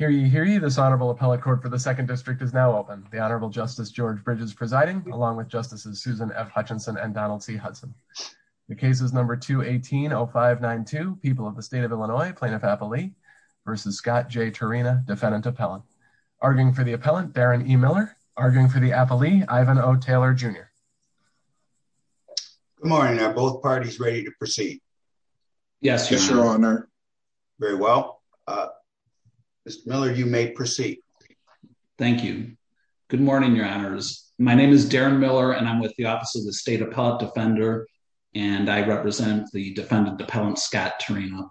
v. Scott J. Turyna, Defendant Appellant. Arguing for the appellant, Darren E. Miller. Arguing for the appellee, Ivan O. Taylor Jr. Good morning. Are both parties ready to proceed? Thank you. Thank you. Thank you. Thank you. Thank you. Very well. Mr. Miller, you may proceed. Thank you. Good morning, Your Honors. My name is Darren Miller, and I'm with the Office of the State Appellate Defender. And I represent the Defendant Appellant Scott Turyna.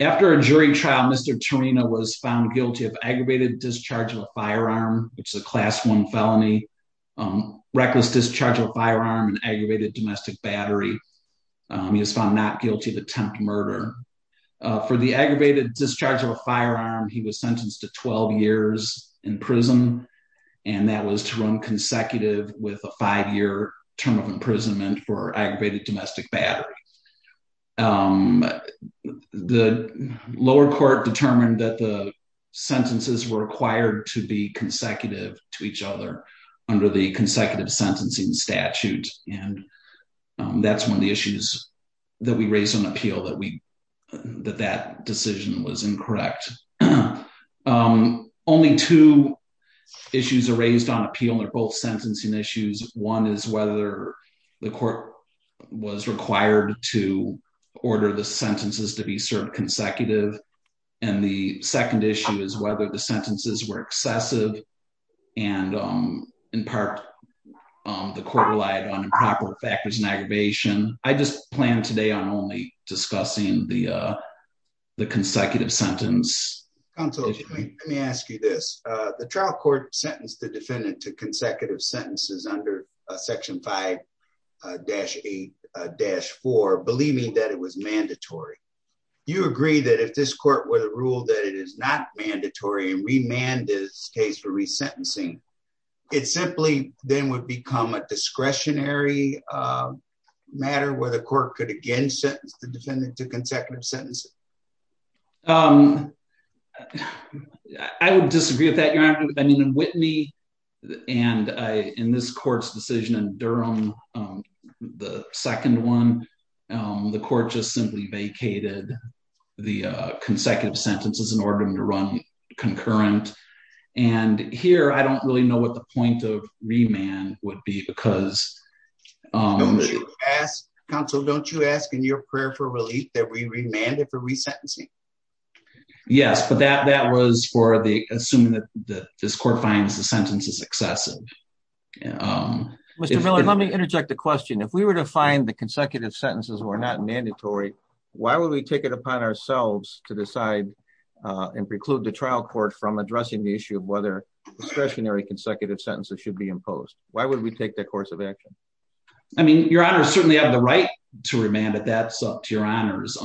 After a jury trial, Mr. Turyna was found guilty of aggravated discharge of a firearm, which is a Class I felony, reckless discharge of a firearm, and aggravated domestic battery. He was found not guilty of attempted murder. For the aggravated discharge of a firearm, he was sentenced to 12 years in prison. And that was to run consecutive with a five-year term of imprisonment for aggravated domestic battery. The lower court determined that the sentences were required to be consecutive to each other under the consecutive sentencing statute. And that's one of the issues that we raised on appeal, that that decision was incorrect. Only two issues are raised on appeal, and they're both sentencing issues. One is whether the court was required to order the sentences to be served consecutive. And the second issue is whether the sentences were excessive. And in part, the court relied on improper factors in aggravation. I just plan today on only discussing the consecutive sentence. Counsel, let me ask you this. The trial court sentenced the defendant to consecutive sentences under Section 5-8-4, believing that it was mandatory. Do you agree that if this court were to rule that it is not mandatory and remand this case for resentencing, it simply then would become a discretionary matter where the court could again sentence the defendant to consecutive sentences? I would disagree with that, Your Honor. I mean, in Whitney and in this court's decision in Durham, the second one, the court just simply vacated the consecutive sentences in order to run concurrent. And here, I don't really know what the point of remand would be because... Counsel, don't you ask in your prayer for relief that we remand it for resentencing? Yes. But that was for assuming that this court finds the sentences excessive. Mr. Miller, let me interject a question. If we were to find the consecutive sentences were not mandatory, why would we take it upon ourselves to decide and preclude the trial court from addressing the issue of whether discretionary consecutive sentences should be imposed? Why would we take that course of action? I mean, Your Honor, certainly I have the right to remand it. That's up to Your Honor's.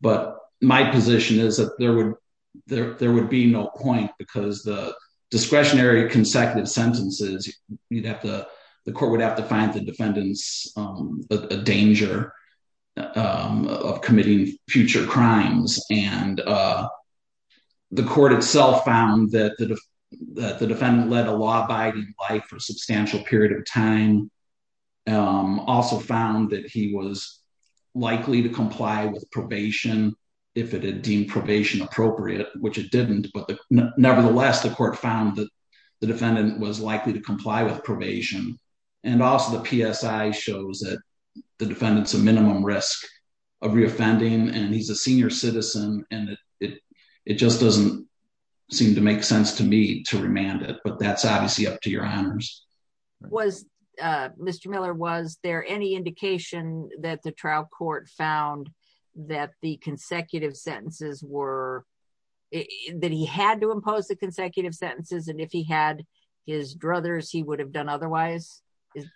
But my position is that there would be no point because the discretionary consecutive sentences, the court would have to find the defendant a danger of committing future crimes. And the court itself found that the defendant led a law-abiding life for a substantial period of time. Also found that he was likely to comply with probation if it had deemed probation appropriate, which it didn't. Nevertheless, the court found that the defendant was likely to comply with probation. And also the PSI shows that the defendant is a minimum risk of reoffending and he's a senior citizen. It just doesn't seem to make sense to me to remand it. But that's obviously up to Your Honor's. Was Mr. Miller, was there any indication that the trial court found that the consecutive sentences were that he had to impose the consecutive sentences and if he had his druthers, he would have done otherwise?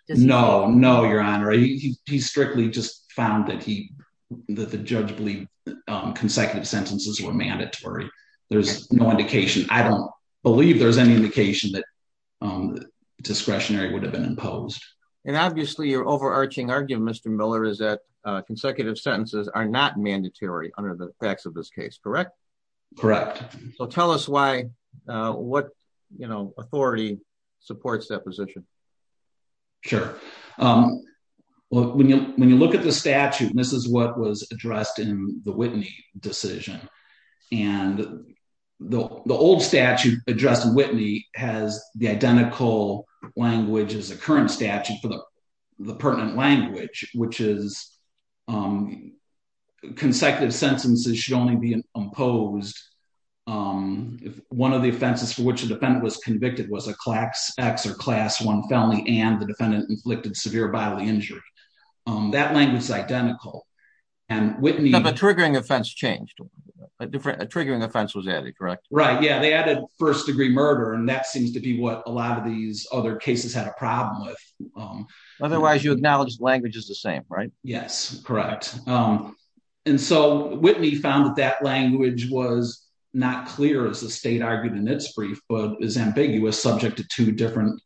No. No, Your Honor. He strictly just found that the judge believed consecutive sentences were mandatory. There's no indication. I don't believe there's any indication that discretionary would have been imposed. And obviously your overarching argument, Mr. Miller, is that consecutive sentences are not mandatory under the facts of this case, correct? Correct. So tell us why what authority supports that position? Sure. When you look at the statute, this is what was addressed in the Whitney decision. And the old statute addressed in Whitney has the identical language as the current statute for the pertinent language which is consecutive sentences should only be imposed if one of the offenses for which the defendant was convicted was a class X or class X conflicted severe bodily injury. That language is identical. But the triggering offense changed. A triggering offense was added, correct? Right, yeah. They added first degree murder and that seems to be what a lot of these other cases had a problem with. Otherwise you acknowledge language is the same, right? Yes, correct. And so Whitney found that that language was not clear as the state argued in its brief but is ambiguous subject to two different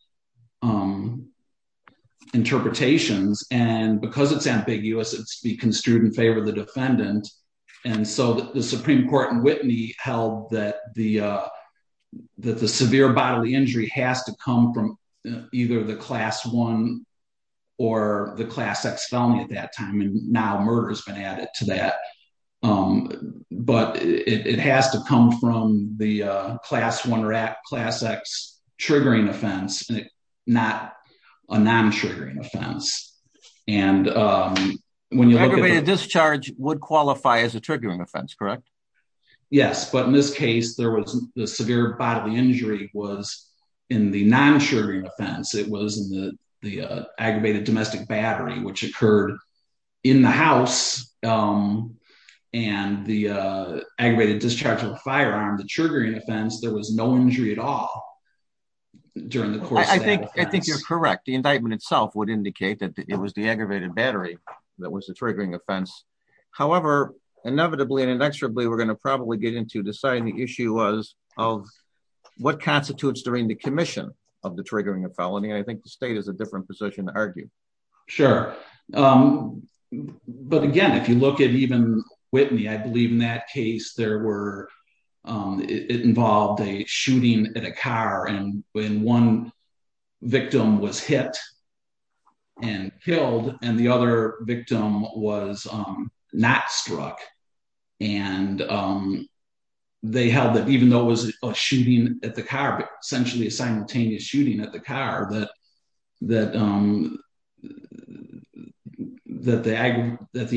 interpretations. And because it's ambiguous, it's to be construed in favor of the defendant. And so the Supreme Court in Whitney held that the severe bodily injury has to come from either the class one or the class X felony at that time and now murder has been added to that. But it has to come from the class one or class X triggering offense, not a non-triggering offense. And... Aggravated discharge would qualify as a triggering offense, correct? Yes, but in this case there was the severe bodily injury was in the non-triggering offense. It was in the aggravated domestic battery which occurred in the house and the aggravated discharge of a firearm, the triggering offense, there was no injury at all. I think you're correct. The indictment itself would indicate that it was the aggravated battery that was the triggering offense. However, inevitably and inexorably we're going to probably get into deciding the issue was of what constitutes the commission of the triggering of felony and I think the state is in a different position to argue. Sure. But again, if you look at even Whitney, I believe in that case there were... There was a shooting at a car and when one victim was hit and killed and the other victim was not struck and they held that even though it was a shooting at the car, but essentially a simultaneous shooting at the car, that the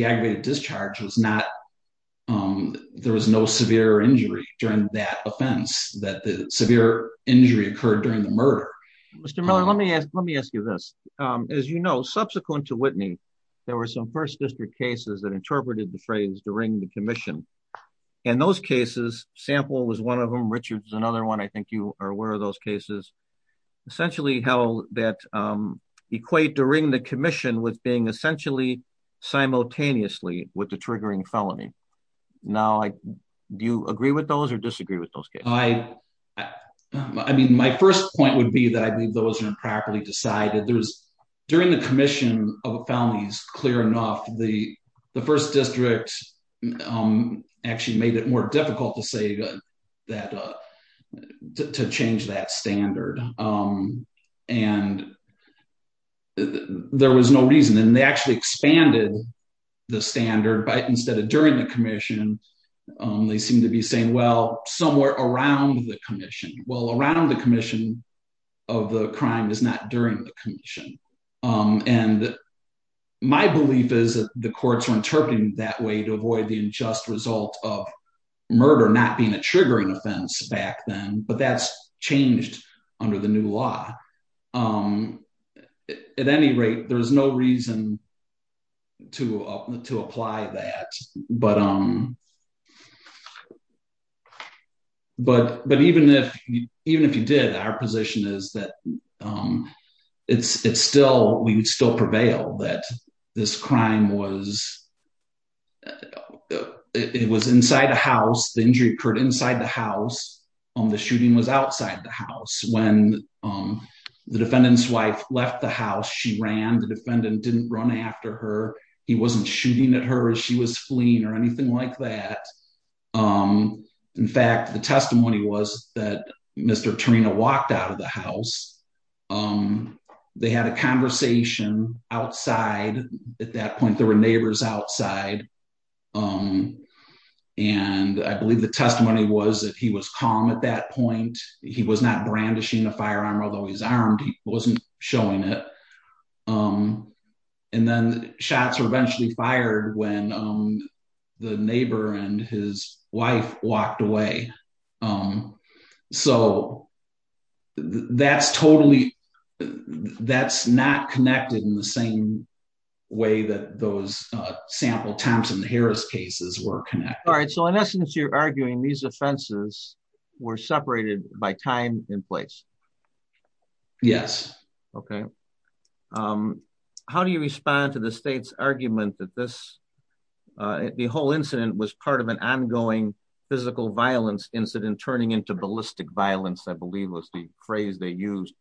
aggravated discharge was not... The other injury occurred during the murder. Mr. Miller, let me ask you this. As you know, subsequent to Whitney, there were some First District cases that interpreted the phrase during the commission. In those cases, Sample was one of them, Richard's another one, I think you are aware of those cases, essentially how that equate during the commission with being essentially simultaneously with the triggering felony. Now, do you agree with those or disagree with those cases? I mean, my first point would be that I believe those are improperly decided. During the commission of felonies, clear enough, the First District actually made it more difficult to say that... to change that standard. And there was no reason and they actually expanded the standard but instead of during the commission, they seem to be saying, well, somewhere around the commission. Well, around the commission of the crime is not during the commission. My belief is that the courts are interpreting that way to avoid the unjust result of murder not being a triggering offense back then, but that's changed under the new law. At any rate, there is no reason to apply that. But even if you did, our position is that we would still prevail that this crime was inside a house. The injury occurred inside the house. The shooting was outside the house. When the defendant's wife left the house, she ran. The defendant didn't run after her. He wasn't shooting at her as she was fleeing or anything like that. In fact, the testimony was that Mr. Torino walked out of the house. They had a conversation outside. At that point, there were neighbors outside. And I believe the testimony was that he was calm at that point. He was not brandishing a firearm, although he's armed. He wasn't showing it. And then shots were eventually fired when the neighbor and his wife walked away. So that's totally not connected in the same way that those sample Thompson-Harris cases were connected. In essence, you're arguing these offenses were separated by time and place. Yes. Okay. How do you respond to the state's argument that the whole incident was part of an ongoing physical violence incident turning into ballistic violence, I believe was the phrase they used?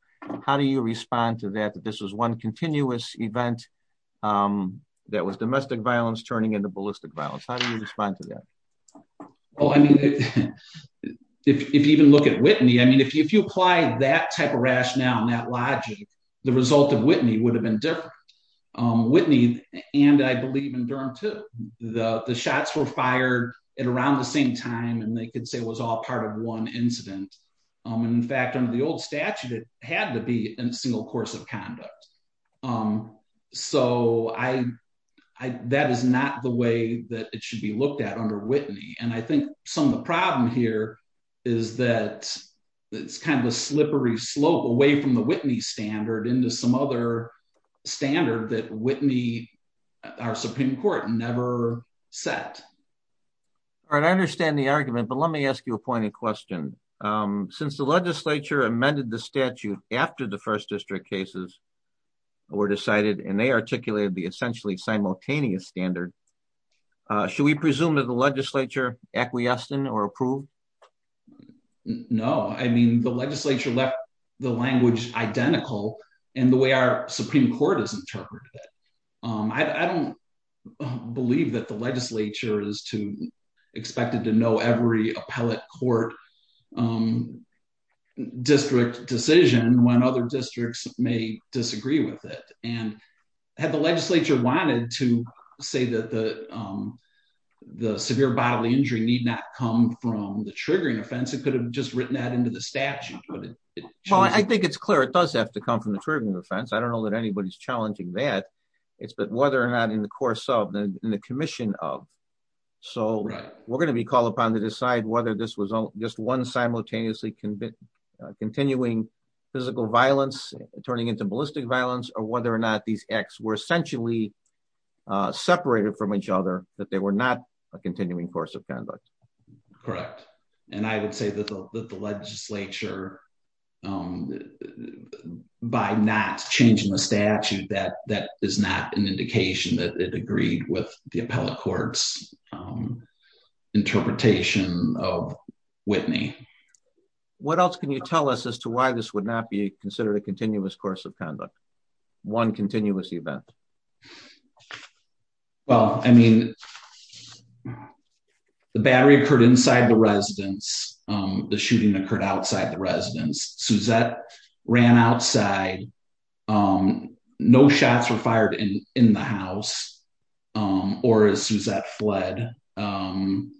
How do you respond to that, that this was one continuous event that was domestic violence turning into ballistic violence? How do you respond to that? If you even look at Whitney, I mean, if you apply that type of rationale and that logic, the result of Whitney would have been different. Whitney and I believe in Durham, too. The shots were fired at around the same time, and they could say it was all part of one incident. In fact, under the old statute, it had to be in a single course of conduct. So that is not the way that it should be looked at under Whitney. And I think some of the problem here is that it's kind of a slippery slope away from the Whitney standard into some other standard that Whitney, our Supreme Court, never set. All right. I understand the argument, but let me ask you a pointed question. Since the legislature amended the statute after the First District cases were decided and they articulated the essentially simultaneous standard, should we presume that the legislature acquiesced in or approved? No. I mean, the legislature left the language identical in the way our Supreme Court has interpreted it. I don't believe that the legislature is expected to know every appellate court district decision when other districts may disagree with it. Had the legislature wanted to say that the severe bodily injury need not come from the triggering offense, it could have just written that into the statute. Well, I think it's clear it does have to come from the triggering offense. I don't know that anybody's challenging that. It's whether or not in the course of, in the commission of. So we're going to be called upon to decide whether this was just one simultaneously continuing physical violence, turning into ballistic violence, or whether or not these acts were essentially separated from each other, that they were not a continuing course of conduct. Correct. And I would say that the legislature, by not changing the statute, that is not an indication that it agreed with the appellate court's interpretation of Whitney. What else can you tell us as to why this would not be considered a continuous course of conduct? One continuous event. Well, I mean, the battery occurred inside the residence. The shooting occurred outside the residence. Suzette ran outside. No shots were fired in the house, or as Suzette fled. And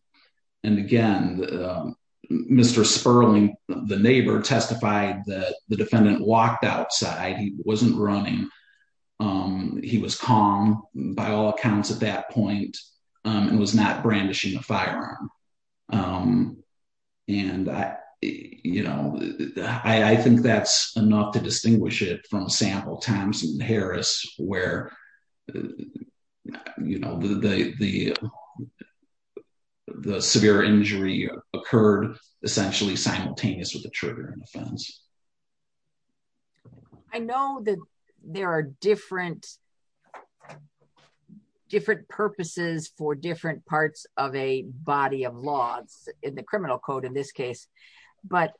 again, Mr. Sperling, the neighbor, testified that the defendant walked outside. He wasn't running. He was calm, by all accounts at that point, and was not brandishing a firearm. I think that's enough to distinguish it from a sample, Thompson and Harris, where the severe injury occurred essentially simultaneous with the trigger and offense. I know that there are different purposes for different parts of a body of law, in the criminal code in this case, but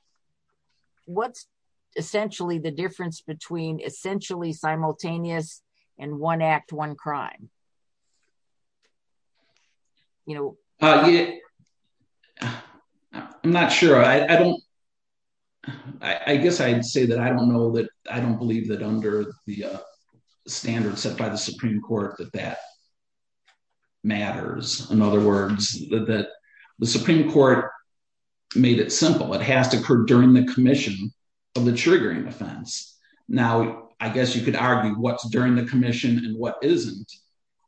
what's essentially the difference between essentially simultaneous and one act, one crime? I'm not sure. I don't I guess I'd say that I don't know that, I don't believe that under the standards set by the Supreme Court that that matters. In other words, that the Supreme Court made it simple. It has to occur during the commission of the triggering offense. Now, I guess you could argue what's during the commission and what isn't.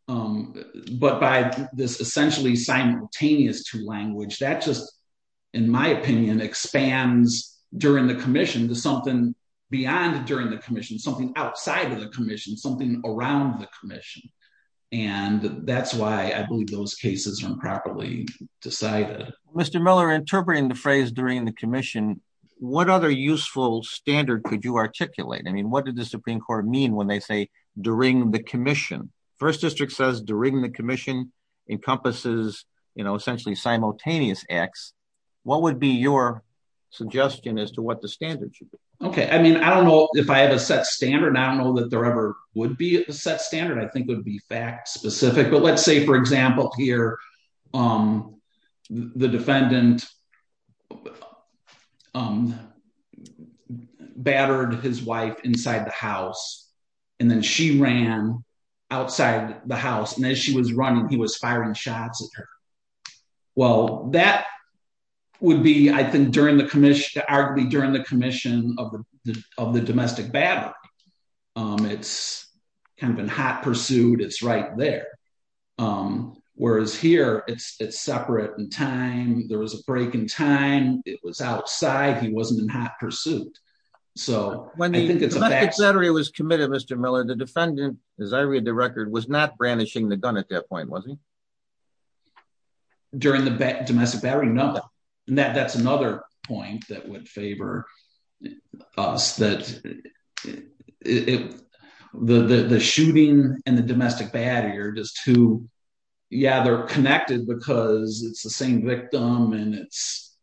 But by this essentially simultaneous two language, that just, in my opinion, expands during the commission to something beyond during the commission, something outside of the commission, something around the commission. That's why I believe those cases are improperly decided. Mr. Miller, interpreting the phrase during the commission, what other useful standard could you articulate? What did the Supreme Court mean when they say during the commission? First District says during the commission encompasses essentially simultaneous acts. What would be your suggestion as to what the standard should be? I don't know if I have a set standard. I don't know that there ever would be a set standard. I think it would be fact specific. Let's say, for example, here the defendant battered his wife inside the house, and then she ran outside the house, and as she was running, he was firing shots at her. That would be I think arguably during the commission of the domestic battering. It's kind of in hot pursuit. It's right there. Whereas here, it's separate in time. There was a break in time. It was outside. He wasn't in hot pursuit. When the domestic battery was committed, Mr. Miller, the defendant, as I read the record, was not brandishing the gun at that point, was he? During the domestic battery? No. That's another point that would favor us. The shooting and the domestic battery are just two yeah, they're connected because it's the same victim and it's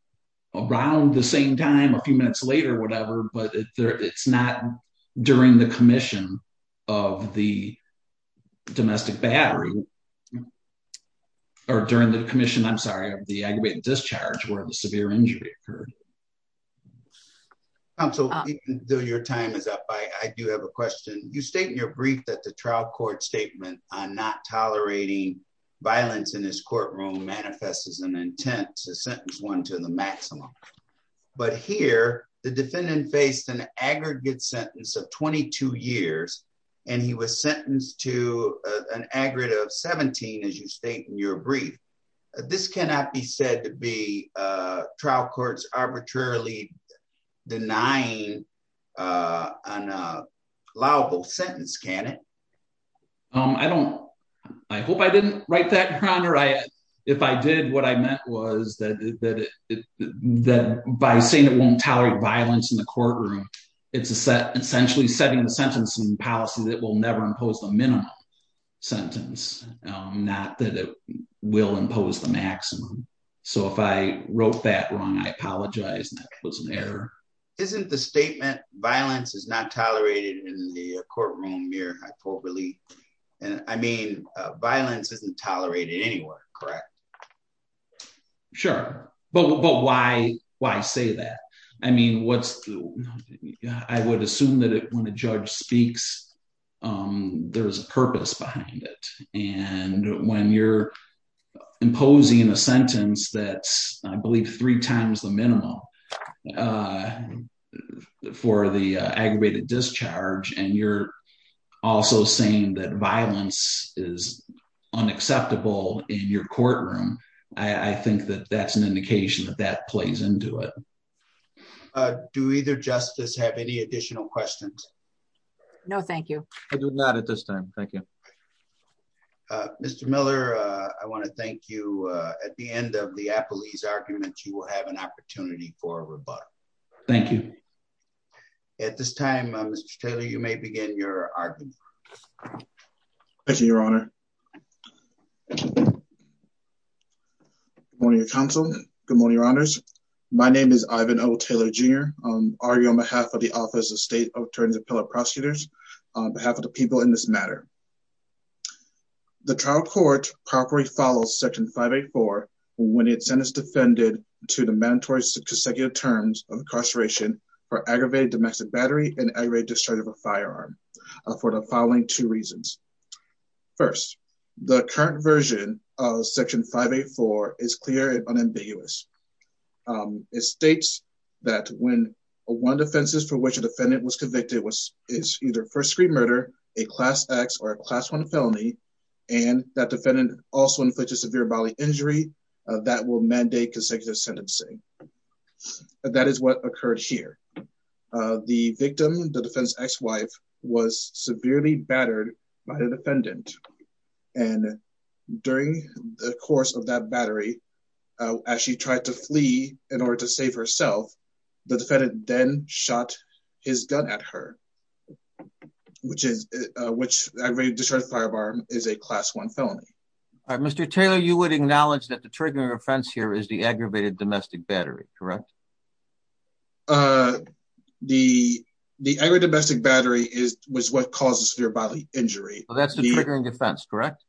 around the same time, a few minutes later, whatever, but it's not during the commission of the domestic battery or during the commission, I'm sorry, of the aggravated discharge where the severe injury occurred. Your time is up. I do have a question. You state in your brief that the trial court statement on not tolerating violence in this courtroom manifests as an intent to sentence one to the maximum. But here, the defendant faced an aggregate sentence of 22 years and he was sentenced to an aggregate of 17, as you state in your brief. This cannot be said to be trial courts arbitrarily denying allowable sentence, can it? I don't, I hope I didn't write that, Your Honor. If I did, what I meant was that by saying it won't tolerate violence in the courtroom, it's essentially setting the sentencing policy that will never impose the minimum sentence, not that it will impose the maximum. So if I wrote that wrong, I apologize. That was an error. Isn't the statement, violence is not tolerated in the courtroom mere hypocrisy? I mean, violence isn't tolerated anywhere, correct? Sure. But why say that? I mean, what's, I would assume that when a judge speaks, there's a purpose behind it. And when you're imposing a sentence that's, I believe, three times the minimum for the aggravated discharge and you're also saying that violence is unacceptable in your courtroom, I think that that's an indication that that plays into it. Do either justice have any additional questions? No, thank you. I do not at this time. Thank you. Mr. Miller, I want to thank you. At the end of the Appleese argument, you will have an opportunity for a rebuttal. Thank you. At this time, Mr. Taylor, you may begin your argument. Thank you, Your Honor. Good morning, Your Counsel. Good morning, Your Honors. My name is Ivan O. Taylor, Jr. I argue on behalf of the Office of State Attorneys and Appellate Prosecutors, on behalf of the people in this matter. The trial court properly follows Section 584 when it's sentence defended to the mandatory consecutive terms of incarceration for aggravated domestic battery and aggravated discharge of a firearm, for the following two reasons. First, the current version of Section 584 is clear and unambiguous. It states that when one of the offenses for which a defendant was convicted is either first-degree murder, a Class X or a Class I felony, and that defendant also inflicts a severe bodily injury, that will mandate consecutive sentencing. That is what occurred here. The victim, the defendant's ex-wife, was severely battered by the defendant and during the course of that battery, as she tried to flee in order to save herself, the defendant then shot his gun at her, which aggravated discharge of a firearm is a Class I felony. Mr. Taylor, you would acknowledge that the triggering offense here is the aggravated domestic battery, correct? The aggravated domestic battery was what caused the severe bodily injury. That's the triggering offense, correct?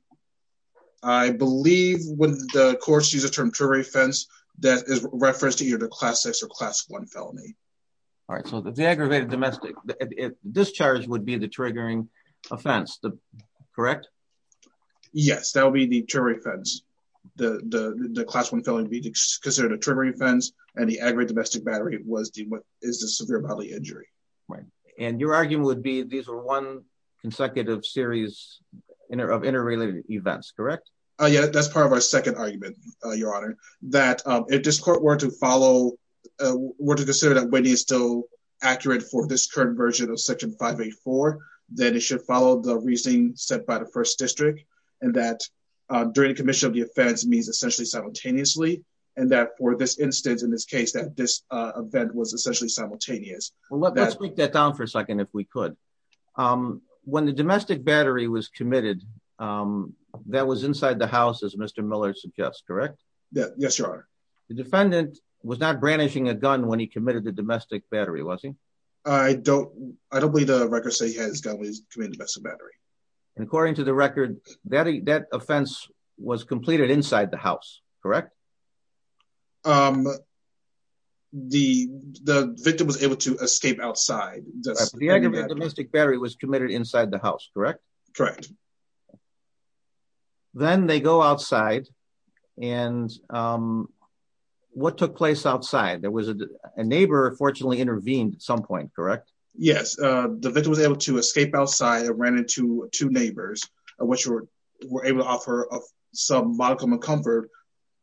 I believe when the courts use the term triggering offense, that is referenced to either the Class X or Class I felony. Alright, so the aggravated domestic discharge would be the triggering offense, correct? Yes, that would be the triggering offense. The Class I felony would be considered a triggering offense, and the aggravated domestic battery is the severe bodily injury. And your argument would be these were one consecutive series of interrelated events, correct? Yes, that's part of our second argument, Your Honor, that if this court were to follow, were to consider that Whitney is still accurate for this current version of Section 584, then it should follow the reasoning set by the First District and that during the commission of the offense means essentially simultaneously and that for this instance, in this case, that this event was essentially simultaneous. Well, let's break that down for a second, if we could. When the domestic battery was committed, that was inside the house, as Mr. Miller suggests, correct? Yes, Your Honor. The defendant was not brandishing a gun when he committed the domestic battery, was he? I don't believe the records say he had his gun when he committed the domestic battery. And according to the record, that offense was completed inside the house, correct? The victim was able to escape outside. The victim of the domestic battery was committed inside the house, correct? Correct. Then they go outside and what took place outside? There was a neighbor fortunately intervened at some point, correct? Yes, the victim was able to escape outside and ran into two neighbors, which were able to offer some modicum of comfort.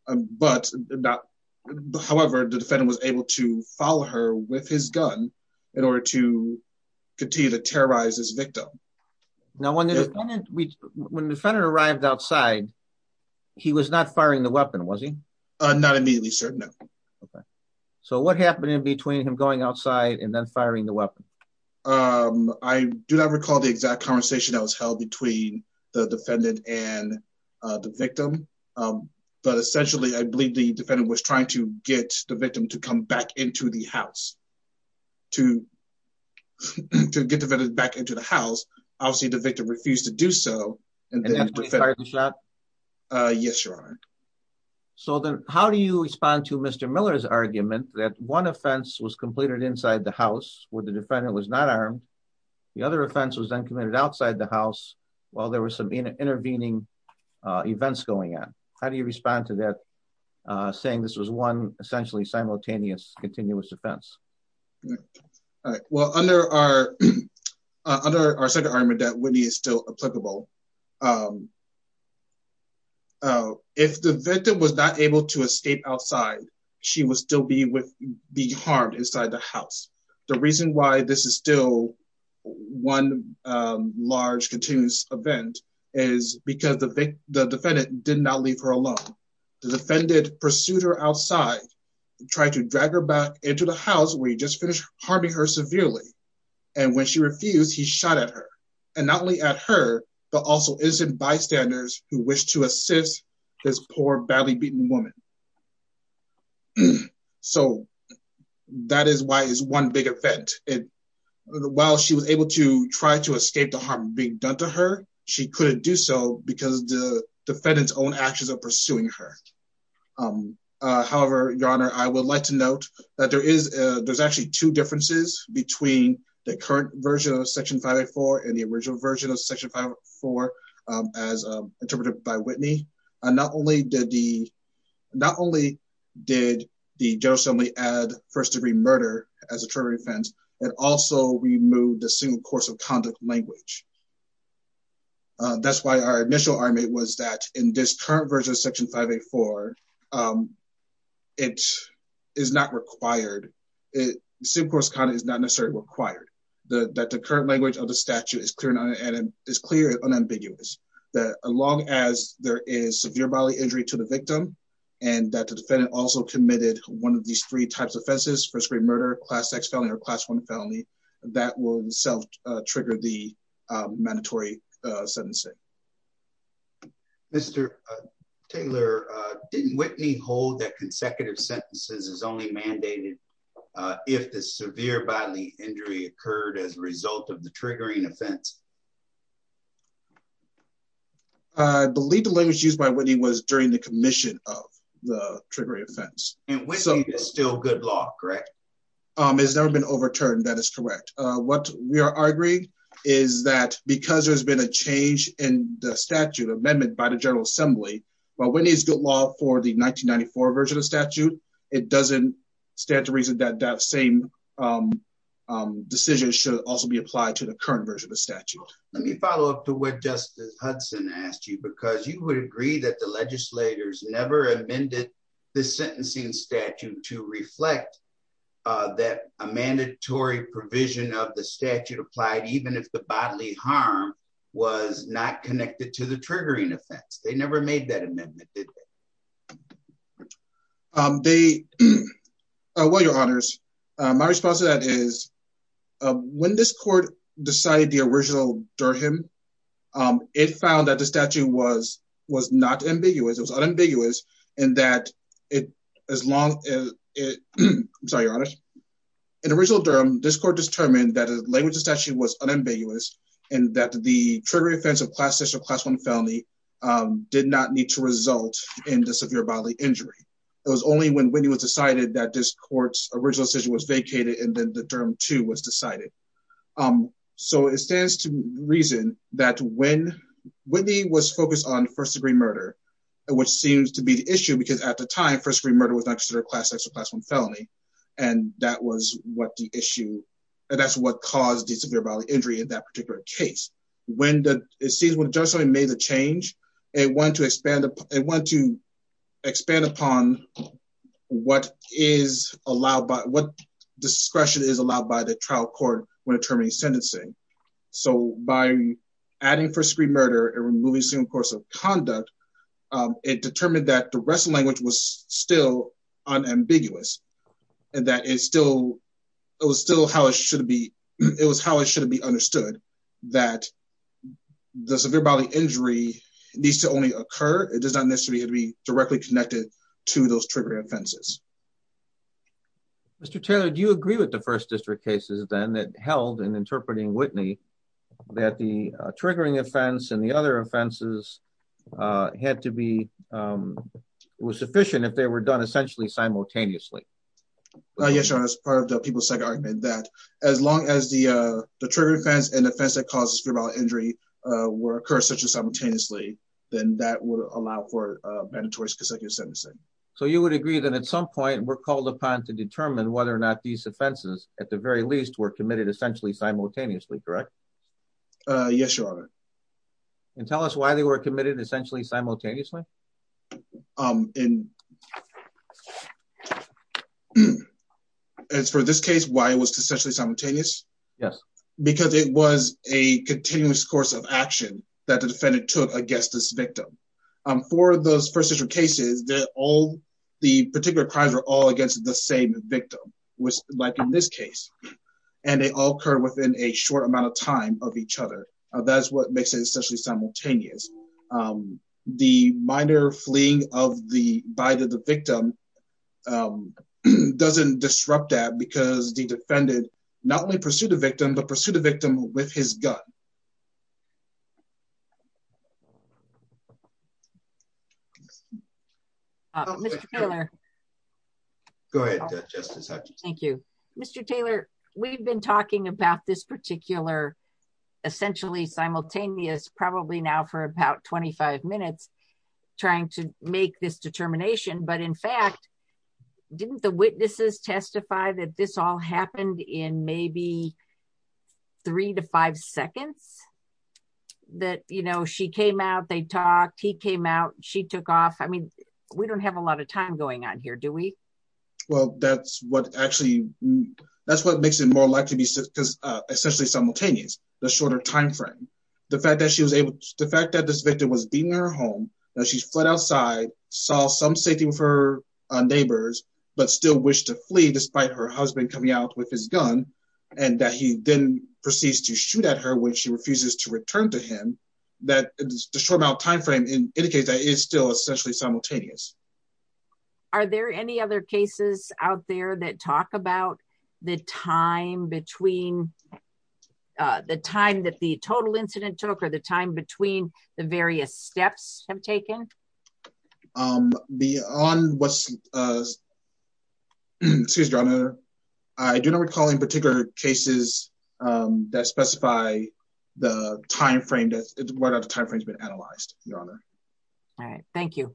However, the defendant was able to follow her with his gun in order to continue to terrorize his victim. Now, when the defendant arrived outside, he was not firing the weapon, was he? Not immediately, sir. No. Okay. So what happened in between him going outside and then I do not recall the exact conversation that was held between the defendant and the victim. But essentially, I believe the defendant was trying to get the victim to come back into the house to get the victim back into the house. Obviously, the victim refused to do so. And then he fired the shot? Yes, Your Honor. So then how do you respond to Mr. Miller's argument that one offense was completed inside the house where the defendant was not armed. The other offense was then committed outside the house while there were some intervening events going on. How do you respond to that saying this was one essentially simultaneous, continuous offense? Well, under our second argument that Whitney is still applicable, if the victim was not able to escape outside, she would still be harmed inside the house. The reason why this is still one large continuous event is because the defendant did not leave her alone. The defendant pursued her outside, tried to drag her back into the house where he just finished harming her severely. And when she refused, he shot at her. And not only at her, but also innocent bystanders who wished to assist this poor badly beaten woman. So that is why it's one big event. While she was able to try to escape the harm being done to her, she couldn't do so because the defendant's own actions of pursuing her. However, Your Honor, I would like to note that there is actually two differences between the current version of Section 504 and the original version of Section 504 as interpreted by Whitney. Not only did the General Assembly add first-degree murder as a term of defense, it also removed the single course of conduct language. That's why our initial argument was that in this current version of Section 504, it is not required. Single course of conduct is not necessarily required. That the current language of the statute is clear and unambiguous. That as long as there is severe bodily injury to the victim and that the defendant also committed one of these three types of offenses, first-degree murder, class X felony, or class I felony, that will trigger the mandatory sentencing. Mr. Taylor, didn't Whitney hold that consecutive sentences is only mandated if the severe bodily injury occurred as a result of the triggering offense? I believe the language used by Whitney was during the commission of the triggering offense. And Whitney is still good law, correct? It has never been overturned. That is correct. What we are arguing is that because there has been a change in the statute amendment by the General Assembly, while Whitney is good law for the 1994 version of the statute, it doesn't stand to reason that that same decision should also be applied to the current version of the statute. Let me follow up to what Justice Hudson asked you because you would agree that the legislators never amended the sentencing statute to reflect that a mandatory provision of the statute applied even if the bodily harm was not connected to the triggering offense. They never made that amendment, did they? Well, Your Honors, my response to that is when this court decided the original Durham, it found that the statute was not ambiguous. It was unambiguous in that as long as I'm sorry, Your Honors. In original Durham, this court determined that the language of the statute was unambiguous and that the triggering offense of class one felony did not need to result in the severe bodily injury. It was only when Whitney was decided that this court's original decision was vacated and then the Durham two was decided. So it stands to reason that when Whitney was focused on first degree murder, which seems to be the issue because at the time, first degree murder was not considered a class X or class one felony, and that was what the issue, and that's what caused the severe bodily injury in that particular case. When the, it seems when Judge Hudson made the change, it went to expand, it went to expand upon what is allowed by, what discretion is allowed by the trial court when determining sentencing. So by adding first degree murder and removing single course of conduct, it determined that the rest of the language was still unambiguous and that it still, it was still how it should be, it was how it should be understood that the severe bodily injury needs to only occur. It does not necessarily have to be directly connected to those triggering offenses. Mr. Taylor, do you agree with the first district cases then that held in interpreting Whitney that the triggering offense and the other offenses had to be, was sufficient if they were done essentially simultaneously? Yes, Your Honor, as part of the people's second argument that as long as the triggering offense and the offense that causes severe bodily injury will occur essentially simultaneously, then that would allow for mandatory consecutive sentencing. So you would agree that at some point were called upon to determine whether or not these offenses at the very least were committed essentially simultaneously, correct? Yes, Your Honor. And tell us why they were committed essentially simultaneously? As for this case, why it was essentially simultaneous? Yes. Because it was a continuous course of action that the defendant took against this victim. For those first district cases, the particular crimes were all against the same victim, like in this case. And they all occurred within a short amount of time of each other. That is what makes it essentially simultaneous. The minor fleeing by the victim doesn't disrupt that because the defendant not only pursued the victim, but pursued the victim with his gun. Mr. Taylor, we've been talking about this particular essentially simultaneous probably now for about 25 minutes trying to make this determination, but in fact didn't the witnesses testify that this all happened in maybe three to five seconds? That, you know, she came out, they talked, he came out, she took off. I mean, we don't have a lot of time going on here, do we? Well, that's what actually that's what makes it more likely to be essentially simultaneous, the shorter time frame. The fact that she was able, the fact that this victim was being in her home, that she fled outside, saw some safety with her neighbors, but still wished to flee despite her husband coming out with his gun and that he then proceeds to shoot at her when she refuses to return to him, that the short amount of time frame indicates that it is still essentially simultaneous. Are there any other cases out there that talk about the time between the time that the total incident took or the time between the various steps have taken? Beyond what's Excuse me, Your Honor. I do not recall any particular cases that specify the time frame, whether the time frame has been analyzed, Your Honor. All right. Thank you.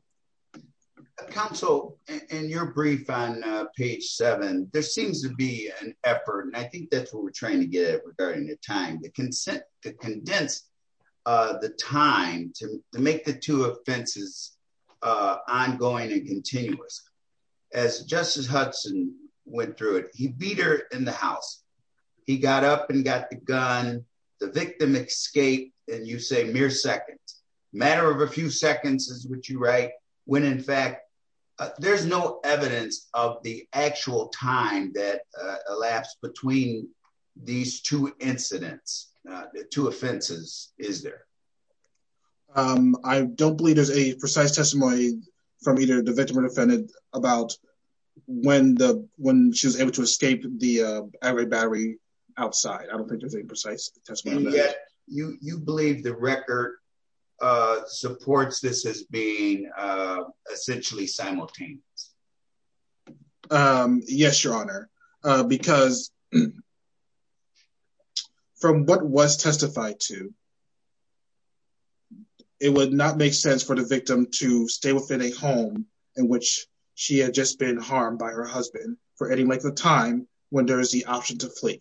Counsel, in your brief on page seven, there seems to be an effort, and I think that's what we're trying to get at regarding the time, the consent to condense the time to make the two offenses ongoing and continuous. As Justice Hudson went through it, he beat her in the house. He got up and got the gun. The victim escaped in, you say, mere seconds. Matter of a few seconds is what you write, when in fact there's no evidence of the actual time that elapsed between these two incidents, the two offenses, is there? I don't believe there's a precise testimony from either the victim or defendant about when she was able to escape the battery outside. I don't think there's any precise testimony. You believe the record supports this as being essentially simultaneous? Yes, Your Honor. Because from what was testified to, it would not make sense for the victim to stay within a home in which she had just been harmed by her husband for any length of time when there is the option to flee.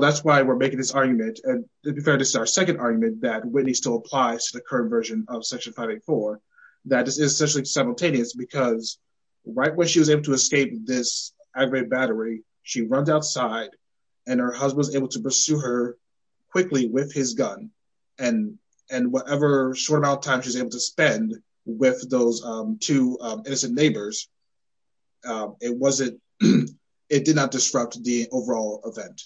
That's why we're making this argument. To be fair, this is our second argument that Whitney still applies to the current version of Section 584, that this is essentially simultaneous because right when she was able to escape this aggravated battery, she runs outside and her husband was able to pursue her quickly with his gun. Whatever short amount of time she was able to spend with those two innocent neighbors, it did not disrupt the overall event.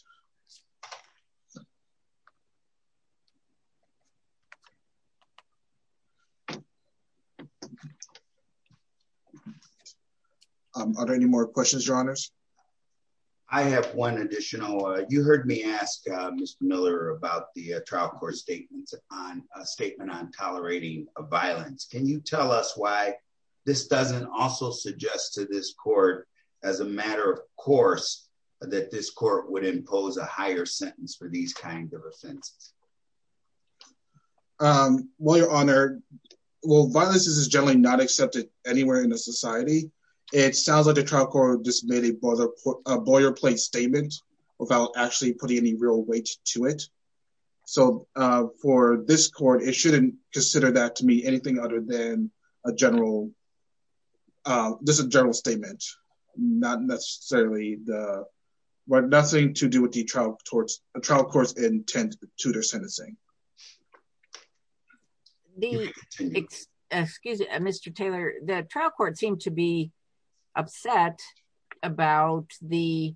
Are there any more questions, Your Honors? I have one additional. You heard me ask Mr. Miller about the trial court statement on tolerating violence. Can you tell us why this doesn't also suggest to this court as a matter of course that this court would impose a higher sentence for these kinds of offenses? Well, Your Honor, violence is generally not accepted anywhere in the society. It sounds like the trial court just made a lawyer-play statement without actually putting any real weight to it. So, for this court, it shouldn't consider that to mean anything other than a general statement. Not necessarily nothing to do with the trial court's intent to their sentencing. Excuse me, Mr. Taylor. The trial court seemed to be upset about the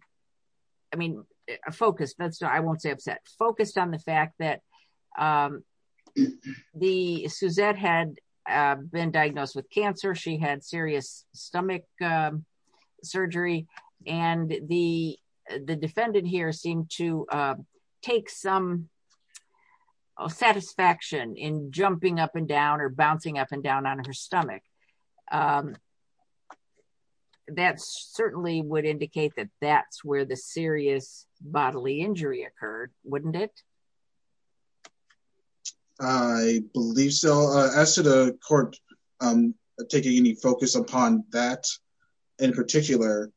I mean, focused I won't say upset. Focused on the fact that Suzette had been diagnosed with cancer. She had serious stomach surgery and the defendant here seemed to take some satisfaction in jumping up and down or bouncing up and down on her stomach. That certainly would indicate that that's where the serious bodily injury occurred, wouldn't it? I believe so. As to the court taking any focus upon that in particular,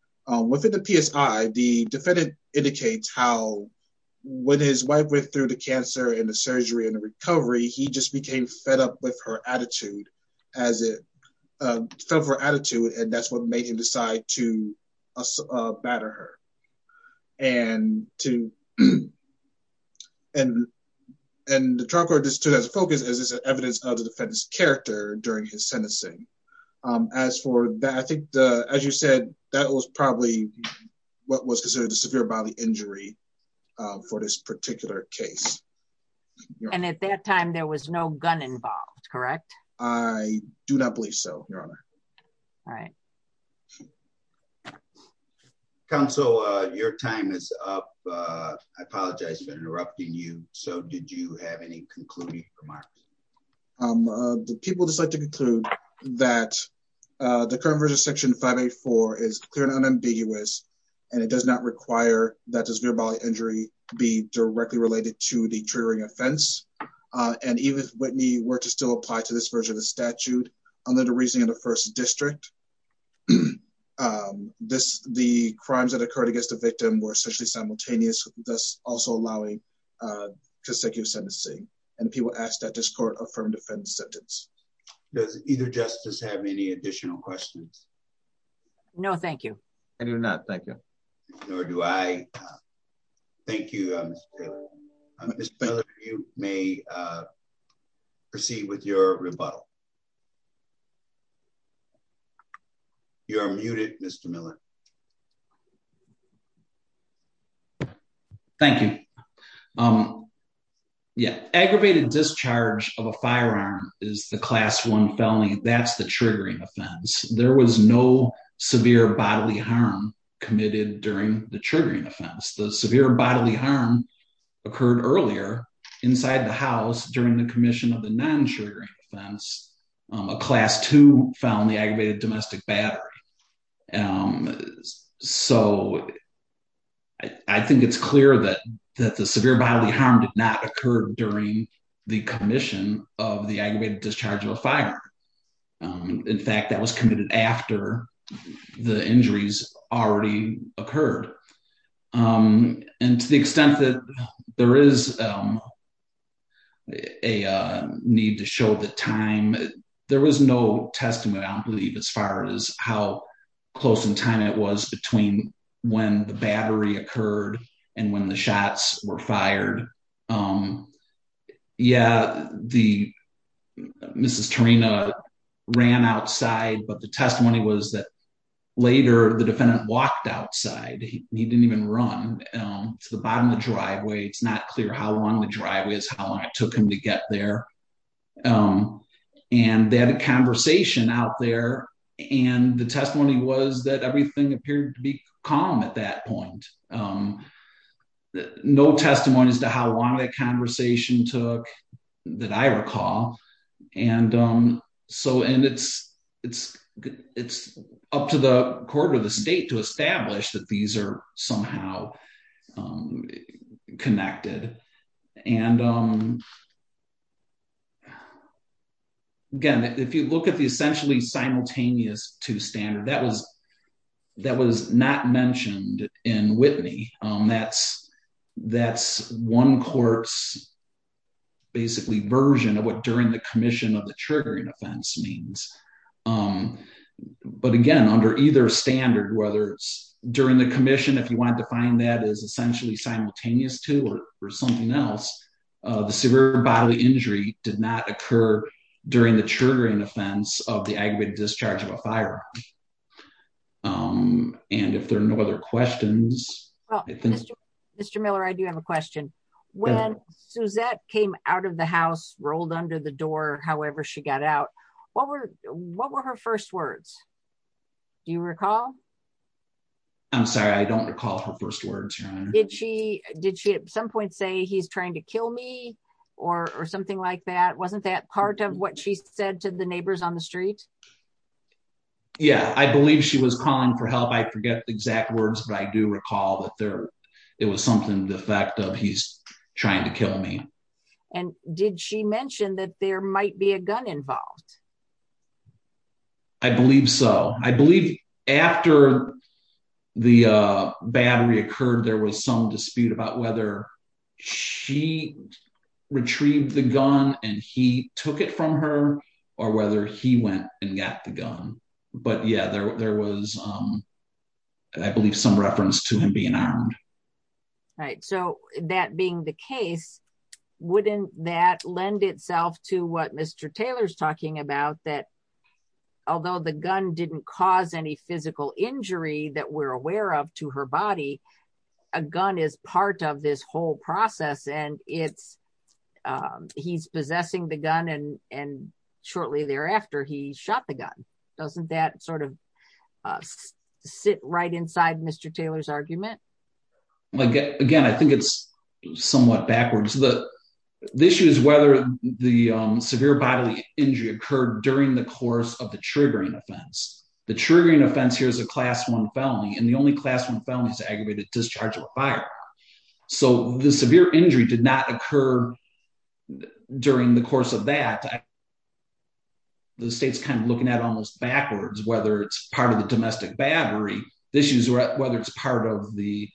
within the PSI, the defendant indicates how when his wife went through the cancer and the surgery and the recovery, he just became fed up with her attitude as it fed her attitude and that's what made him decide to batter her. And to and the trial court just took as a focus as evidence of the defendant's character during his sentencing. As for that, I think, as you said, that was probably what was considered a severe bodily injury for this particular case. And at that time there was no gun involved, correct? I do not believe so, Your Honor. All right. Counsel, your time is up. I apologize for interrupting you. So did you have any concluding remarks? The people just like to conclude that the current version of Section 584 is clear and unambiguous and it does not require that this severe bodily injury be directly related to the triggering offense. And even if Whitney were to still apply to this version of the statute, under the reasoning of the First District, the crimes that occurred against the victim were essentially simultaneous, thus also allowing consecutive sentencing. And the people asked that this court affirm the defendant's sentence. Does either justice have any additional questions? No, thank you. I do not. Thank you. Nor do I. Thank you, Mr. Miller. Mr. Miller, you may proceed with your rebuttal. You are muted, Mr. Miller. Thank you. Yeah, aggravated discharge of a firearm is the Class I felony. That's the triggering offense. There was no severe bodily harm committed during the triggering offense. The severe bodily harm occurred earlier inside the house during the commission of the non-triggering offense. A Class II found the aggravated domestic battery. So I think it's clear that the severe bodily harm did not occur during the commission of the aggravated discharge of a firearm. In fact, that was committed after the injuries already occurred. And to the extent that there is a need to show the time, there was no testimony, I believe, as far as how close in time it was between when the battery occurred and when the shots were fired. Yeah, the, Mrs. Tarina ran outside, but the testimony was that later the defendant walked outside. He didn't even run to the bottom of the driveway. It's not clear how long the driveway is, how long it took him to get there. And they had a conversation out there, and the testimony was that everything appeared to be calm at that point. No testimony as to how long that conversation took, that I recall. And it's up to the court or the state to establish that these are somehow connected. And again, if you look at the essentially simultaneous two standard, that was not mentioned in Whitney. That's one court's basically version of what during the commission of the triggering offense means. But again, under either standard, whether it's during the commission, if you want to define that as essentially simultaneous two or something else, the severe bodily injury did not occur during the triggering offense of the aggravated discharge of a firearm. And if there are no other questions... Mr. Miller, I do have a question. When Suzette came out of the house, rolled under the door, however she got out, what were her first words? Do you recall? I'm sorry. I don't recall her first words, Your Honor. Did she at some point say, he's trying to kill me, or something like that? Wasn't that part of what she said to the neighbors on the street? Yeah. I believe she was calling for help. I forget the exact words, but I do recall that it was something to the effect of, he's trying to kill me. And did she mention that there might be a gun involved? I believe so. I believe after the battery occurred, there was some dispute about whether she retrieved the gun and he took it from her, or whether he went and got the gun. But yeah, there was, I believe, some reference to him being armed. Right. So that being the case, wouldn't that lend itself to what Mr. Taylor's talking about, that although the gun didn't cause any physical injury that we're aware of to her body, a gun is part of this whole process and it's, he's possessing the gun and shot the gun. Doesn't that sort of sit right inside Mr. Taylor's argument? Again, I think it's somewhat backwards. The issue is whether the severe bodily injury occurred during the course of the triggering offense. The triggering offense here is a class one felony, and the only class one felony is aggravated discharge or fire. So the severe injury did not occur during the course of that. The state's kind of looking at it almost backwards, whether it's part of the domestic battery. The issue is whether it's part of the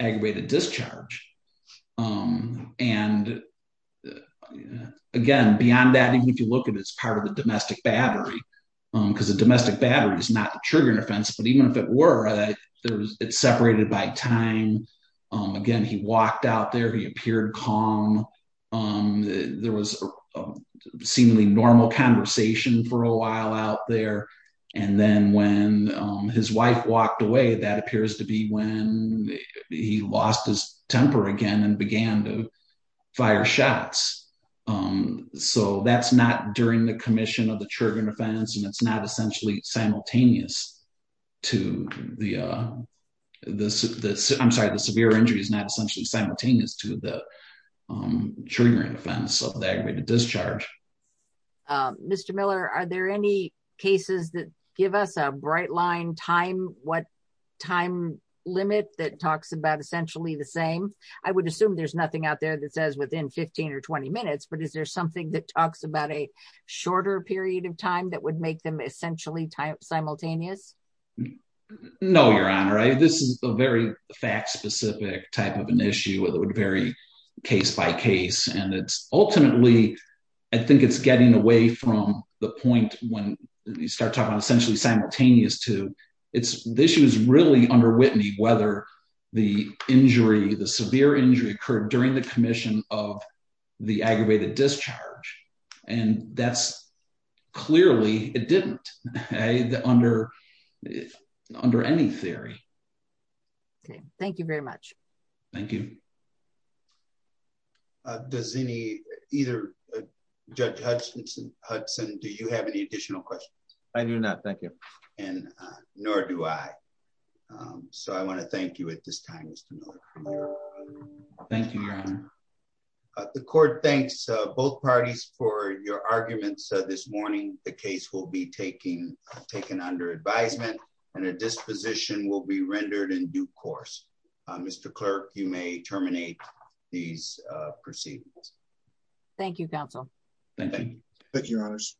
aggravated discharge. And again, beyond that, even if you look at it as part of the domestic battery, because the domestic battery is not the triggering offense, but even if it were, it's separated by time. Again, he walked out there, he appeared calm. There was a seemingly normal conversation for a while out there, and then when his wife walked away, that appears to be when he lost his temper again and began to fire shots. So that's not during the commission of the triggering offense, and it's not essentially simultaneous to the I'm sorry, the severe injury is not essentially simultaneous to the triggering offense of the aggravated discharge. Mr. Miller, are there any cases that give us a bright line time? What time limit that talks about essentially the same? I would assume there's nothing out there that says within 15 or 20 minutes, but is there something that talks about a shorter period of time that would make them essentially simultaneous? No, Your Honor. This is a very fact-specific type of an issue. It would vary case by case. Ultimately, I think from the point when you start talking about essentially simultaneous to, the issue is really under Whitney whether the injury, the severe injury occurred during the commission of the aggravated discharge, and that's clearly it didn't under any theory. Okay. Thank you very much. Thank you. Does any, either Judge Hudson, do you have any additional questions? I do not. Thank you. Nor do I. I want to thank you at this time, Mr. Miller. Thank you, Your Honor. The court thanks both parties for your arguments this morning. The case will be taken under advisement, and a disposition will be rendered in due course. Mr. Clerk, you may terminate these proceedings. Thank you, Counsel. Thank you, Your Honors.